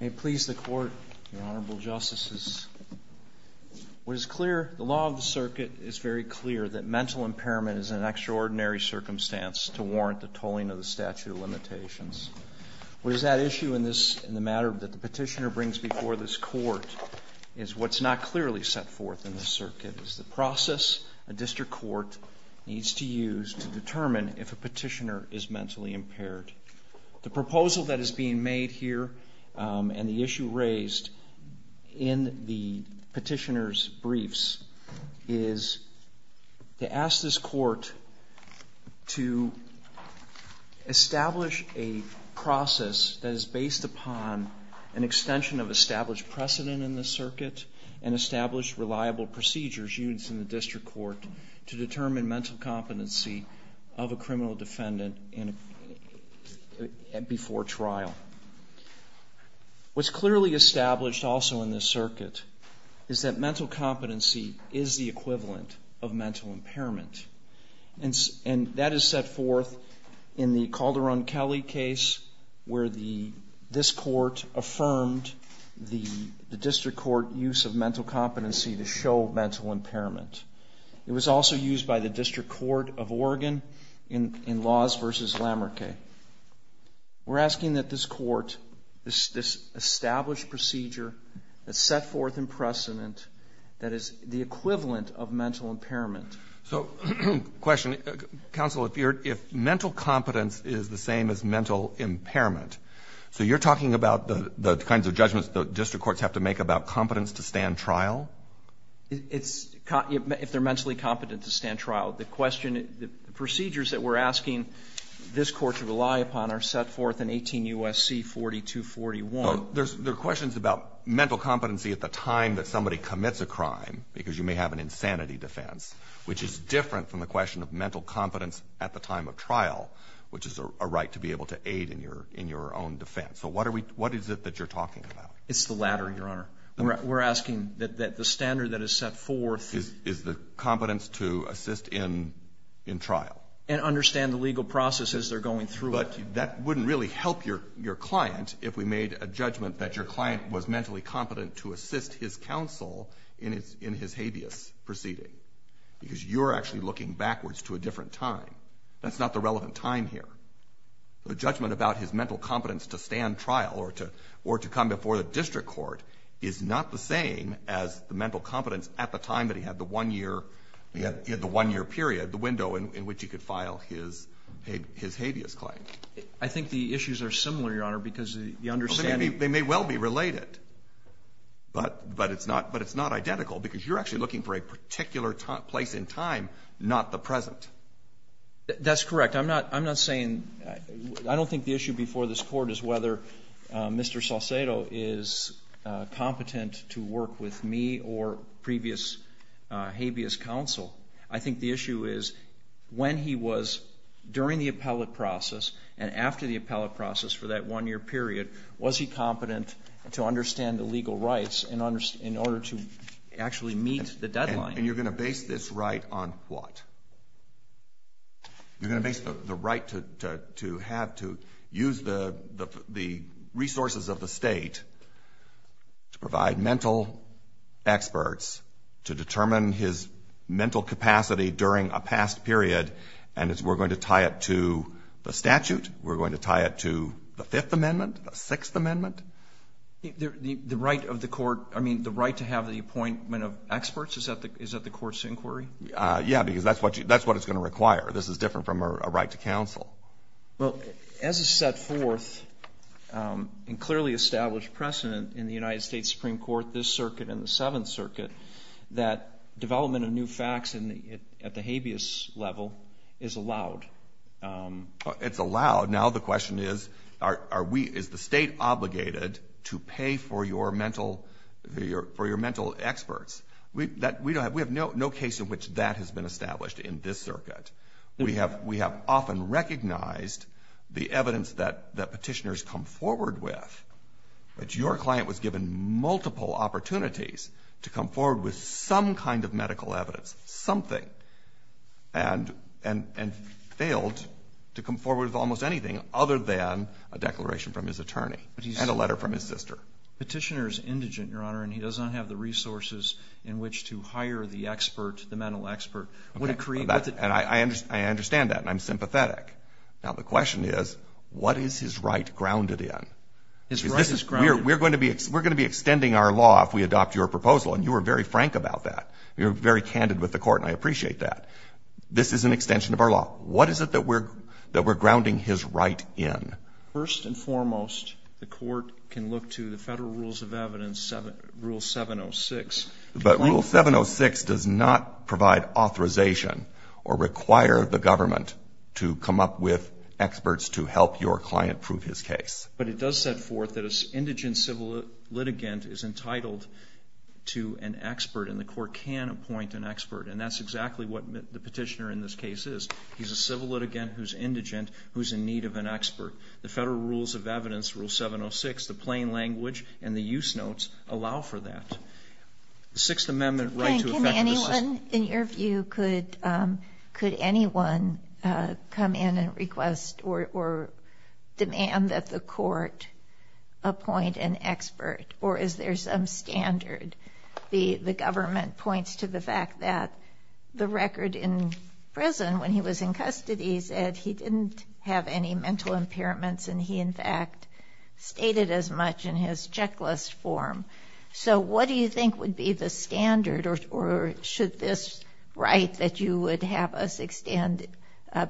May it please the Court, Your Honorable Justices, what is clear, the law of the circuit is very clear that mental impairment is an extraordinary circumstance to warrant the tolling of the statute of limitations. What is at issue in this, in the matter that the petitioner brings before this court is what's not clearly set forth in this circuit, is the process a district court needs to use to determine if a petitioner is mentally impaired. The proposal that is being made here and the issue raised in the petitioner's briefs is to ask this court to establish a process that is based upon an extension of established precedent in the circuit and established reliable procedures used in the district court to determine mental competency of a criminal defendant before trial. What's clearly established also in this circuit is that mental competency is the equivalent of mental impairment. And that is set forth in the Calderon-Kelly case where this court affirmed the district court use of mental competency to show mental impairment. It was also used by the District Court of Oregon in Laws v. Lamarckay. We're asking that this court, this established procedure that's set forth in precedent that is the equivalent of mental impairment. So, question. Counsel, if mental competence is the same as mental impairment, so you're talking about the kinds of judgments the district courts have to make about competence to stand trial? It's, if they're mentally competent to stand trial. The question, the procedures that we're asking this court to rely upon are set forth in 18 U.S.C. 40241. So there are questions about mental competency at the time that somebody commits a crime, because you may have an insanity defense, which is different from the question of mental competence at the time of trial, which is a right to be able to aid in your own defense. So what is it that you're talking about? It's the latter, Your Honor. We're asking that the standard that is set forth is the competence to assist in trial. And understand the legal process as they're going through it. But that wouldn't really help your client if we made a judgment that your client was mentally competent to assist his counsel in his habeas proceeding, because you're actually looking backwards to a different time. That's not the relevant time here. The judgment about his mental competence to stand trial or to come before the district court is not the same as the mental competence at the time that he had the one-year period, the window in which he could file his habeas claim. I think the issues are similar, Your Honor, because the understanding They may well be related. But it's not identical, because you're actually looking for a particular place in time, not the present. That's correct. I'm not saying — I don't think the issue before this Court is whether Mr. Salcedo is competent to work with me or previous habeas counsel. I think the issue is when he was during the appellate process and after the appellate process for that one-year period, was he competent to understand the legal rights in order to actually meet the deadline. And you're going to base this right on what? You're going to base the right to have to use the resources of the State to provide mental experts to determine his mental capacity during a past period, and we're going to tie it to the statute? We're going to tie it to the Fifth Amendment, the Sixth Amendment? The right of the court — I mean, the right to have the appointment of experts? Is that the Court's inquiry? Yes, because that's what it's going to require. This is different from a right to counsel. Well, as a set forth and clearly established precedent in the United States Supreme Court, this circuit and the Seventh Circuit, that development of new facts at the habeas level is allowed. It's allowed. Now the question is, is the State obligated to pay for your mental experts? We have no case in which that has been established in this circuit. We have often recognized the evidence that Petitioners come forward with. But your client was given multiple opportunities to come forward with some kind of medical evidence, something, and failed to come forward with almost anything other than a declaration from his attorney and a letter from his sister. Petitioner is indigent, Your Honor, and he does not have the resources in which to hire the expert, the mental expert. And I understand that, and I'm sympathetic. Now the question is, what is his right grounded in? We're going to be extending our law if we adopt your proposal, and you were very frank about that. You were very candid with the Court, and I appreciate that. This is an extension of our law. What is it that we're grounding his right in? First and foremost, the Court can look to the Federal Rules of Evidence, Rule 706. But Rule 706 does not provide authorization or require the government to come up with experts to help your client prove his case. But it does set forth that an indigent civil litigant is entitled to an expert, and the Court can appoint an expert. And that's exactly what the petitioner in this case is. He's a civil litigant who's indigent, who's in need of an expert. The Federal Rules of Evidence, Rule 706, the plain language, and the use notes allow for that. The Sixth Amendment right to affect the system. Helen, in your view, could anyone come in and request or demand that the Court appoint an expert? Or is there some standard? The government points to the fact that the record in prison when he was in custody said he didn't have any mental impairments, and he, in fact, stated as much in his checklist form. So what do you think would be the standard? Or should this right that you would have us extend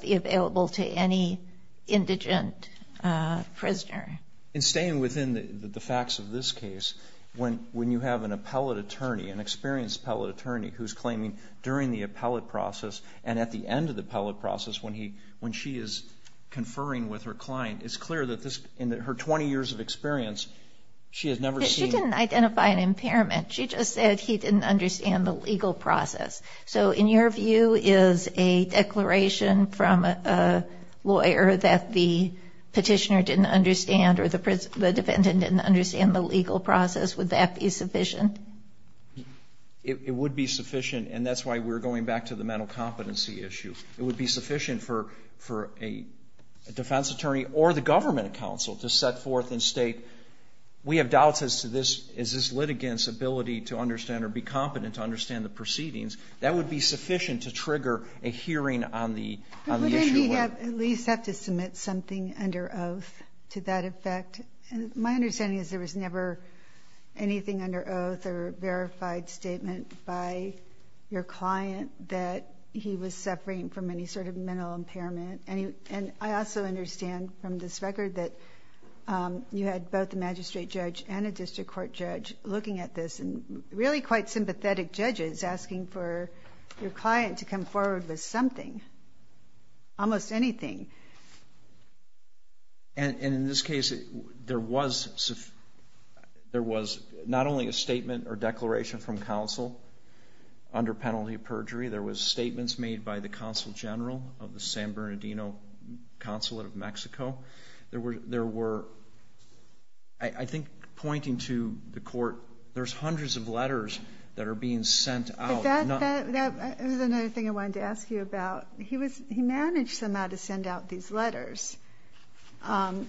be available to any indigent prisoner? In staying within the facts of this case, when you have an appellate attorney, an experienced appellate attorney who's claiming during the appellate process and at the end of the appellate process when she is conferring with her client, it's clear that in her 20 years of experience, she has never seen She didn't identify an impairment. She just said he didn't understand the legal process. So in your view, is a declaration from a lawyer that the petitioner didn't understand or the defendant didn't understand the legal process, would that be sufficient? It would be sufficient. And that's why we're going back to the mental competency issue. It would be sufficient for a defense attorney or the government counsel to set forth and state, we have doubts as to this litigant's ability to understand or be competent to understand the proceedings. That would be sufficient to trigger a hearing on the issue. Wouldn't he at least have to submit something under oath to that effect? My understanding is there was never anything under oath or verified statement by your client that he was suffering from any sort of mental impairment. And I also understand from this record that you had both a magistrate judge and a district court judge looking at this and really quite sympathetic judges asking for your client to come forward with something, almost anything. And in this case, there was not only a statement or declaration from counsel under penalty of perjury, there was statements made by the consul general of the San Bernardino consulate of Mexico. There were, I think, pointing to the court, there's hundreds of letters that are being sent out. But that's another thing I wanted to ask you about. He managed somehow to send out these letters. I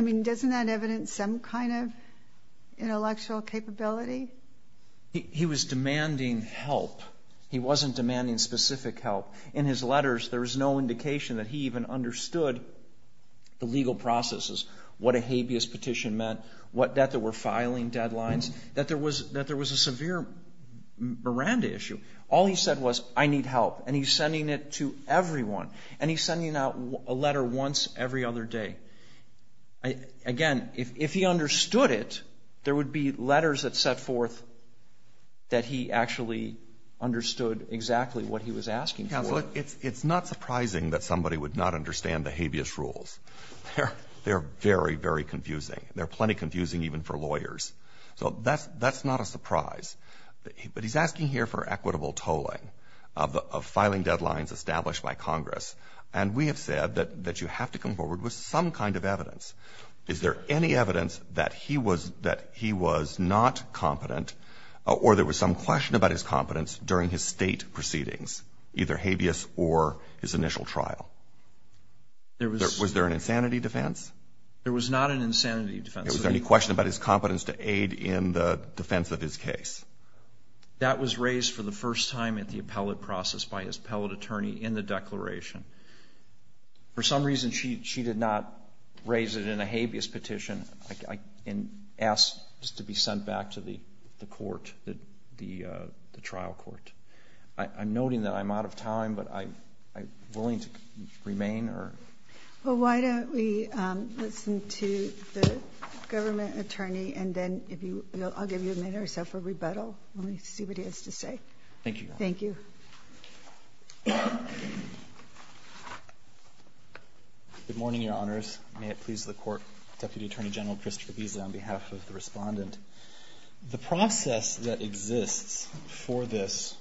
mean, doesn't that evidence some kind of intellectual capability? He was demanding help. He wasn't demanding specific help. In his letters, there was no indication that he even understood the legal processes, what a habeas petition meant, that there were filing deadlines, that there was a severe Miranda issue. All he said was, I need help. And he's sending it to everyone. And he's sending out a letter once every other day. Again, if he understood it, there would be letters that set forth that he actually understood exactly what he was asking for. It's not surprising that somebody would not understand the habeas rules. They're very, very confusing. They're plenty confusing even for lawyers. So that's not a surprise. But he's asking here for equitable tolling of filing deadlines established by Congress. And we have said that you have to come forward with some kind of evidence. Is there any evidence that he was not competent or there was some question about his competence during his State proceedings, either habeas or his initial trial? Was there an insanity defense? There was not an insanity defense. Is there any question about his competence to aid in the defense of his case? That was raised for the first time at the appellate process by his appellate attorney in the declaration. For some reason, she did not raise it in a habeas petition and asked just to be sent back to the court, the trial court. I'm noting that I'm out of time, but I'm willing to remain. Well, why don't we listen to the government attorney, and then if you will, I'll give you a minute or so for rebuttal, and we'll see what he has to say. Thank you. Thank you. Good morning, Your Honors. May it please the Court. Deputy Attorney General Christopher Giesa on behalf of the Respondent. The process that exists for this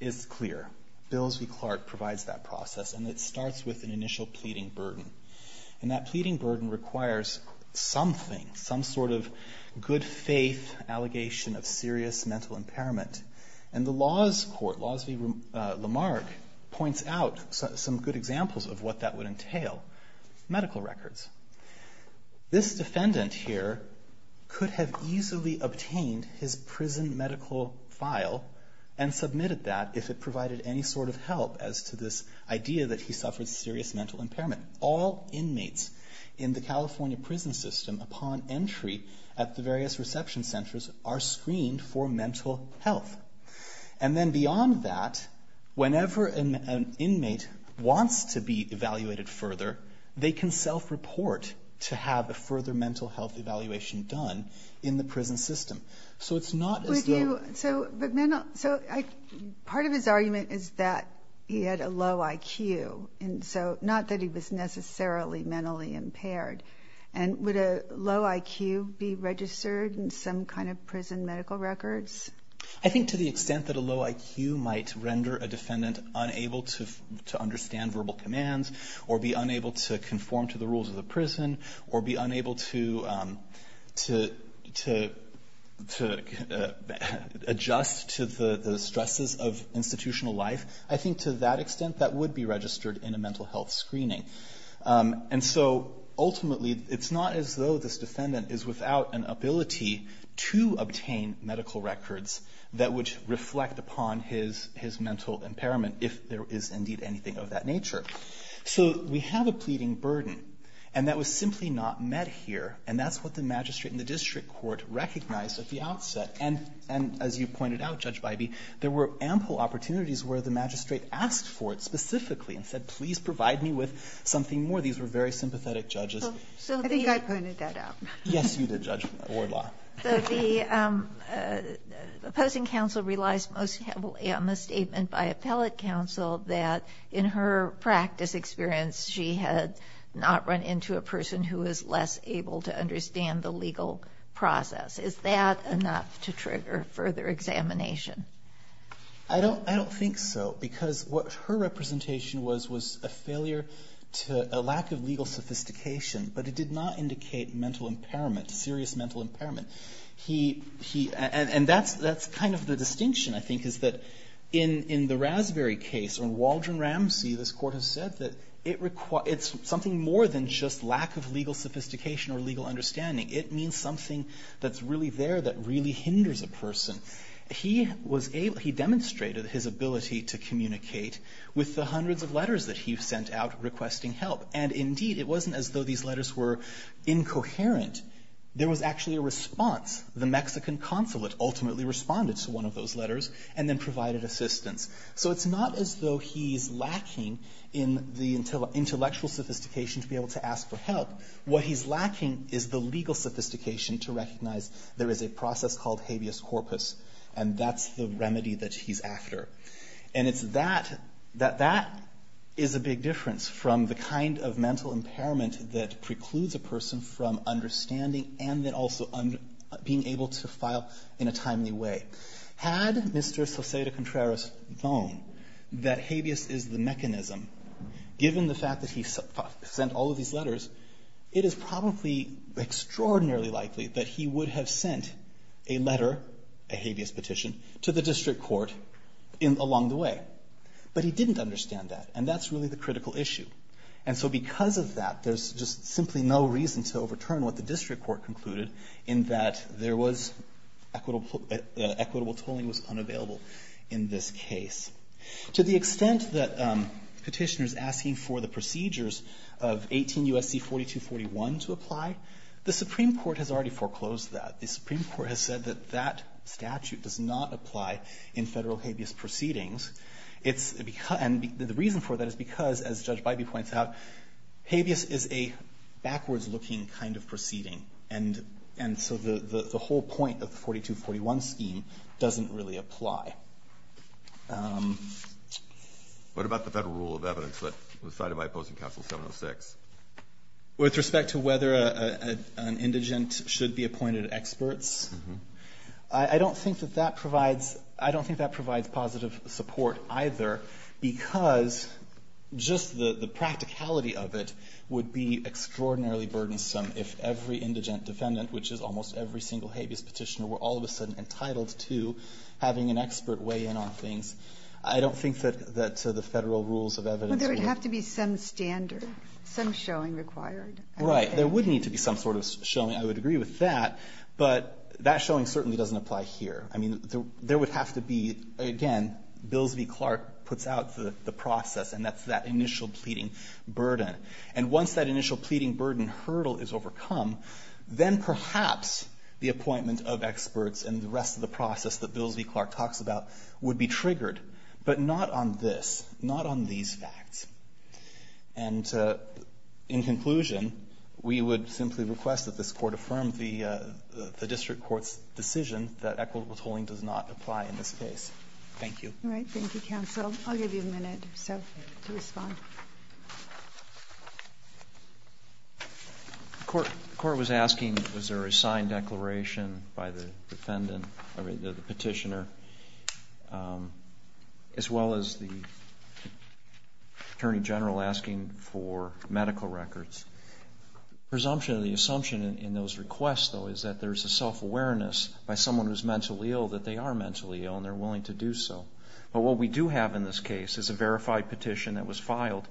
is clear. Bills v. Clark provides that process, and it starts with an initial pleading burden. And that pleading burden requires something, some sort of good faith allegation of serious mental impairment. And the laws court, Laws v. Lamarck, points out some good examples of what that would entail, medical records. This defendant here could have easily obtained his prison medical file and submitted that if it provided any sort of help as to this idea that he suffered serious mental impairment. All inmates in the California prison system, upon entry at the various reception centers, are screened for mental health. And then beyond that, whenever an inmate wants to be evaluated further, they can self-report to have a further mental health evaluation done in the prison system. So it's not as though ---- So part of his argument is that he had a low IQ, and so not that he was necessarily mentally impaired. And would a low IQ be registered in some kind of prison medical records? I think to the extent that a low IQ might render a defendant unable to understand verbal commands, or be unable to conform to the rules of the prison, or be unable to adjust to the stresses of institutional life, I think to that extent that would be registered in a mental health screening. And so ultimately, it's not as though this defendant is without an ability to obtain medical records that would reflect upon his mental impairment if there is indeed anything of that nature. So we have a pleading burden. And that was simply not met here. And that's what the magistrate and the district court recognized at the outset. And as you pointed out, Judge Bybee, there were ample opportunities where the magistrate asked for it specifically and said, please provide me with something more. These were very sympathetic judges. I think I pointed that out. Yes, you did, Judge Wardlaw. So the opposing counsel realized most heavily on the statement by appellate counsel that in her practice experience, she had not run into a person who was less able to understand the legal process. Is that enough to trigger further examination? I don't think so, because what her representation was was a failure to a lack of legal sophistication, but it did not indicate mental impairment, serious mental impairment. And that's kind of the distinction, I think, is that in the Rasberry case, in Waldron Ramsey, this court has said that it's something more than just lack of legal sophistication or legal understanding. It means something that's really there that really hinders a person. He demonstrated his ability to communicate with the hundreds of letters that he sent out requesting help. And indeed, it wasn't as though these letters were incoherent. There was actually a response. The Mexican consulate ultimately responded to one of those letters and then provided assistance. So it's not as though he's lacking in the intellectual sophistication to be able to ask for help. What he's lacking is the legal sophistication to recognize there is a process called habeas corpus, and that's the remedy that he's after. And it's that that is a big difference from the kind of mental impairment that we're talking about. It's the lack of legal understanding and then also being able to file in a timely way. Had Mr. Salcedo-Contreras known that habeas is the mechanism, given the fact that he sent all of these letters, it is probably extraordinarily likely that he would have sent a letter, a habeas petition, to the district court along the way. But he didn't understand that, and that's really the critical issue. And so because of that, there's just simply no reason to overturn what the district court concluded in that there was equitable tolling was unavailable in this case. To the extent that Petitioner's asking for the procedures of 18 U.S.C. 4241 to apply, the Supreme Court has already foreclosed that. The Supreme Court has said that that statute does not apply in Federal habeas proceedings. And the reason for that is because, as Judge Bybee points out, habeas is a backwards looking kind of proceeding. And so the whole point of the 4241 scheme doesn't really apply. What about the Federal rule of evidence that was cited by opposing counsel 706? With respect to whether an indigent should be appointed experts, I don't think that that provides, I don't think that provides positive support either, because just the practicality of it would be extraordinarily burdensome if every indigent defendant, which is almost every single habeas Petitioner, were all of a sudden entitled to having an expert weigh in on things. I don't think that the Federal rules of evidence would. But there would have to be some standard, some showing required. Right. There would need to be some sort of showing. I would agree with that. But that showing certainly doesn't apply here. I mean, there would have to be, again, Bills v. Clark puts out the process, and that's that initial pleading burden. And once that initial pleading burden hurdle is overcome, then perhaps the appointment of experts and the rest of the process that Bills v. Clark talks about would be triggered, but not on this, not on these facts. And in conclusion, we would simply request that this Court affirm the district court's decision that equitable tolling does not apply in this case. Thank you. All right. Thank you, counsel. I'll give you a minute or so to respond. The Court was asking, was there a signed declaration by the defendant, or the Petitioner, as well as the Attorney General asking for medical records? Presumption, the assumption in those requests, though, is that there's a self-awareness by someone who's mentally ill that they are mentally ill and they're willing to do so. But what we do have in this case is a verified petition that was filed,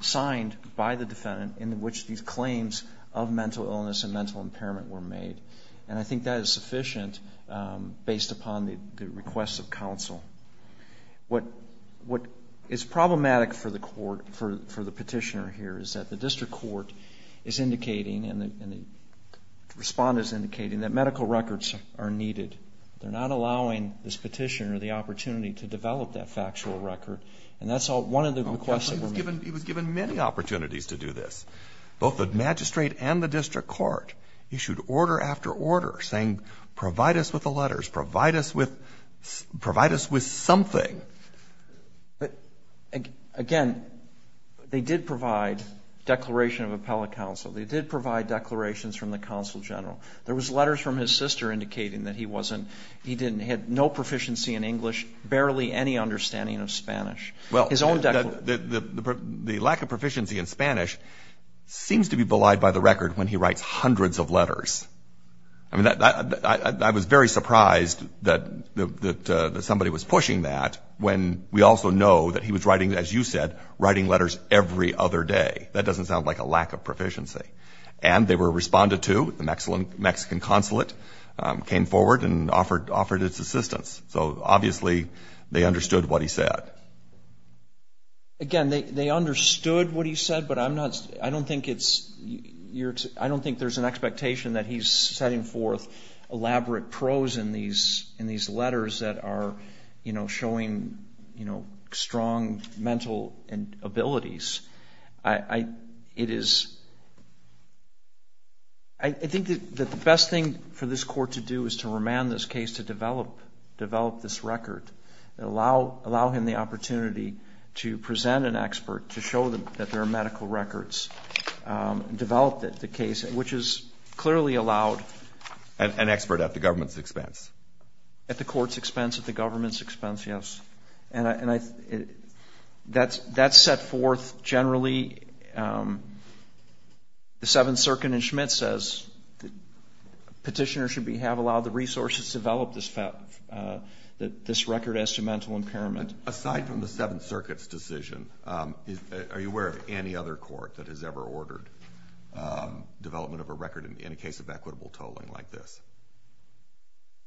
signed by the defendant, in which these claims of mental illness and mental impairment were made. And I think that is sufficient based upon the requests of counsel. What is problematic for the Petitioner here is that the district court is indicating and the Respondent is indicating that medical records are needed. They're not allowing this Petitioner the opportunity to develop that factual record. And that's one of the requests that were made. He was given many opportunities to do this. Both the magistrate and the district court issued order after order saying, provide us with the letters, provide us with something. But, again, they did provide declaration of appellate counsel. They did provide declarations from the counsel general. There was letters from his sister indicating that he wasn't, he didn't, had no proficiency in English, barely any understanding of Spanish. Well, the lack of proficiency in Spanish seems to be belied by the record when he writes hundreds of letters. I mean, I was very surprised that somebody was pushing that when we also know that he was writing, as you said, writing letters every other day. That doesn't sound like a lack of proficiency. And they were responded to. The Mexican consulate came forward and offered its assistance. So, obviously, they understood what he said. Again, they understood what he said, but I'm not, I don't think it's, I don't think there's an expectation that he's setting forth elaborate prose in these letters that are, you know, showing, you know, strong mental abilities. I, it is, I think that the best thing for this court to do is to remand this case to develop this record and allow him the opportunity to present an expert to show that there are medical records developed at the case, which is clearly allowed. An expert at the government's expense? At the court's expense, at the government's expense, yes. And I, that's set forth generally. The Seventh Circuit in Schmidt says the petitioner should have allowed the resources developed that this record as to mental impairment. Aside from the Seventh Circuit's decision, are you aware of any other court that has ever ordered development of a record in a case of equitable tolling like this?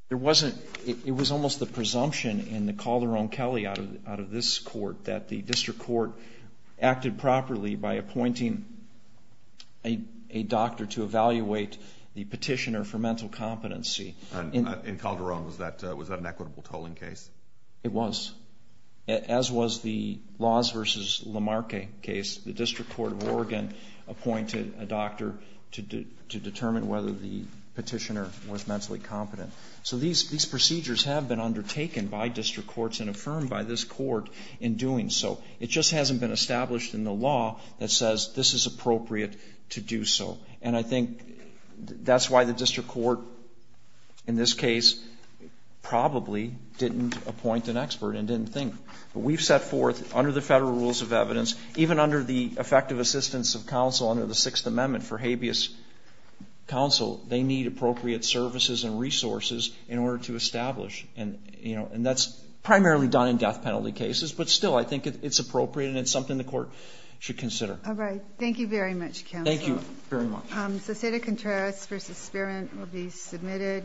There wasn't. It was almost the presumption in the Calderon-Kelly out of this court that the district court acted properly by appointing a doctor to evaluate the petitioner for mental competency. In Calderon, was that an equitable tolling case? It was, as was the Laws v. Lamarque case. The district court of Oregon appointed a doctor to determine whether the petitioner was mentally competent. So these procedures have been undertaken by district courts and affirmed by this court in doing so. It just hasn't been established in the law that says this is appropriate to do so. And I think that's why the district court in this case probably didn't appoint an expert and didn't think. But we've set forth under the Federal Rules of Evidence, even under the effective assistance of counsel under the Sixth Amendment for habeas counsel, they need appropriate services and resources in order to establish. And, you know, and that's primarily done in death penalty cases, but still I think it's appropriate and it's something the court should consider. All right. Thank you very much, counsel. Thank you very much. The State of Contrast v. Spearman will be submitted.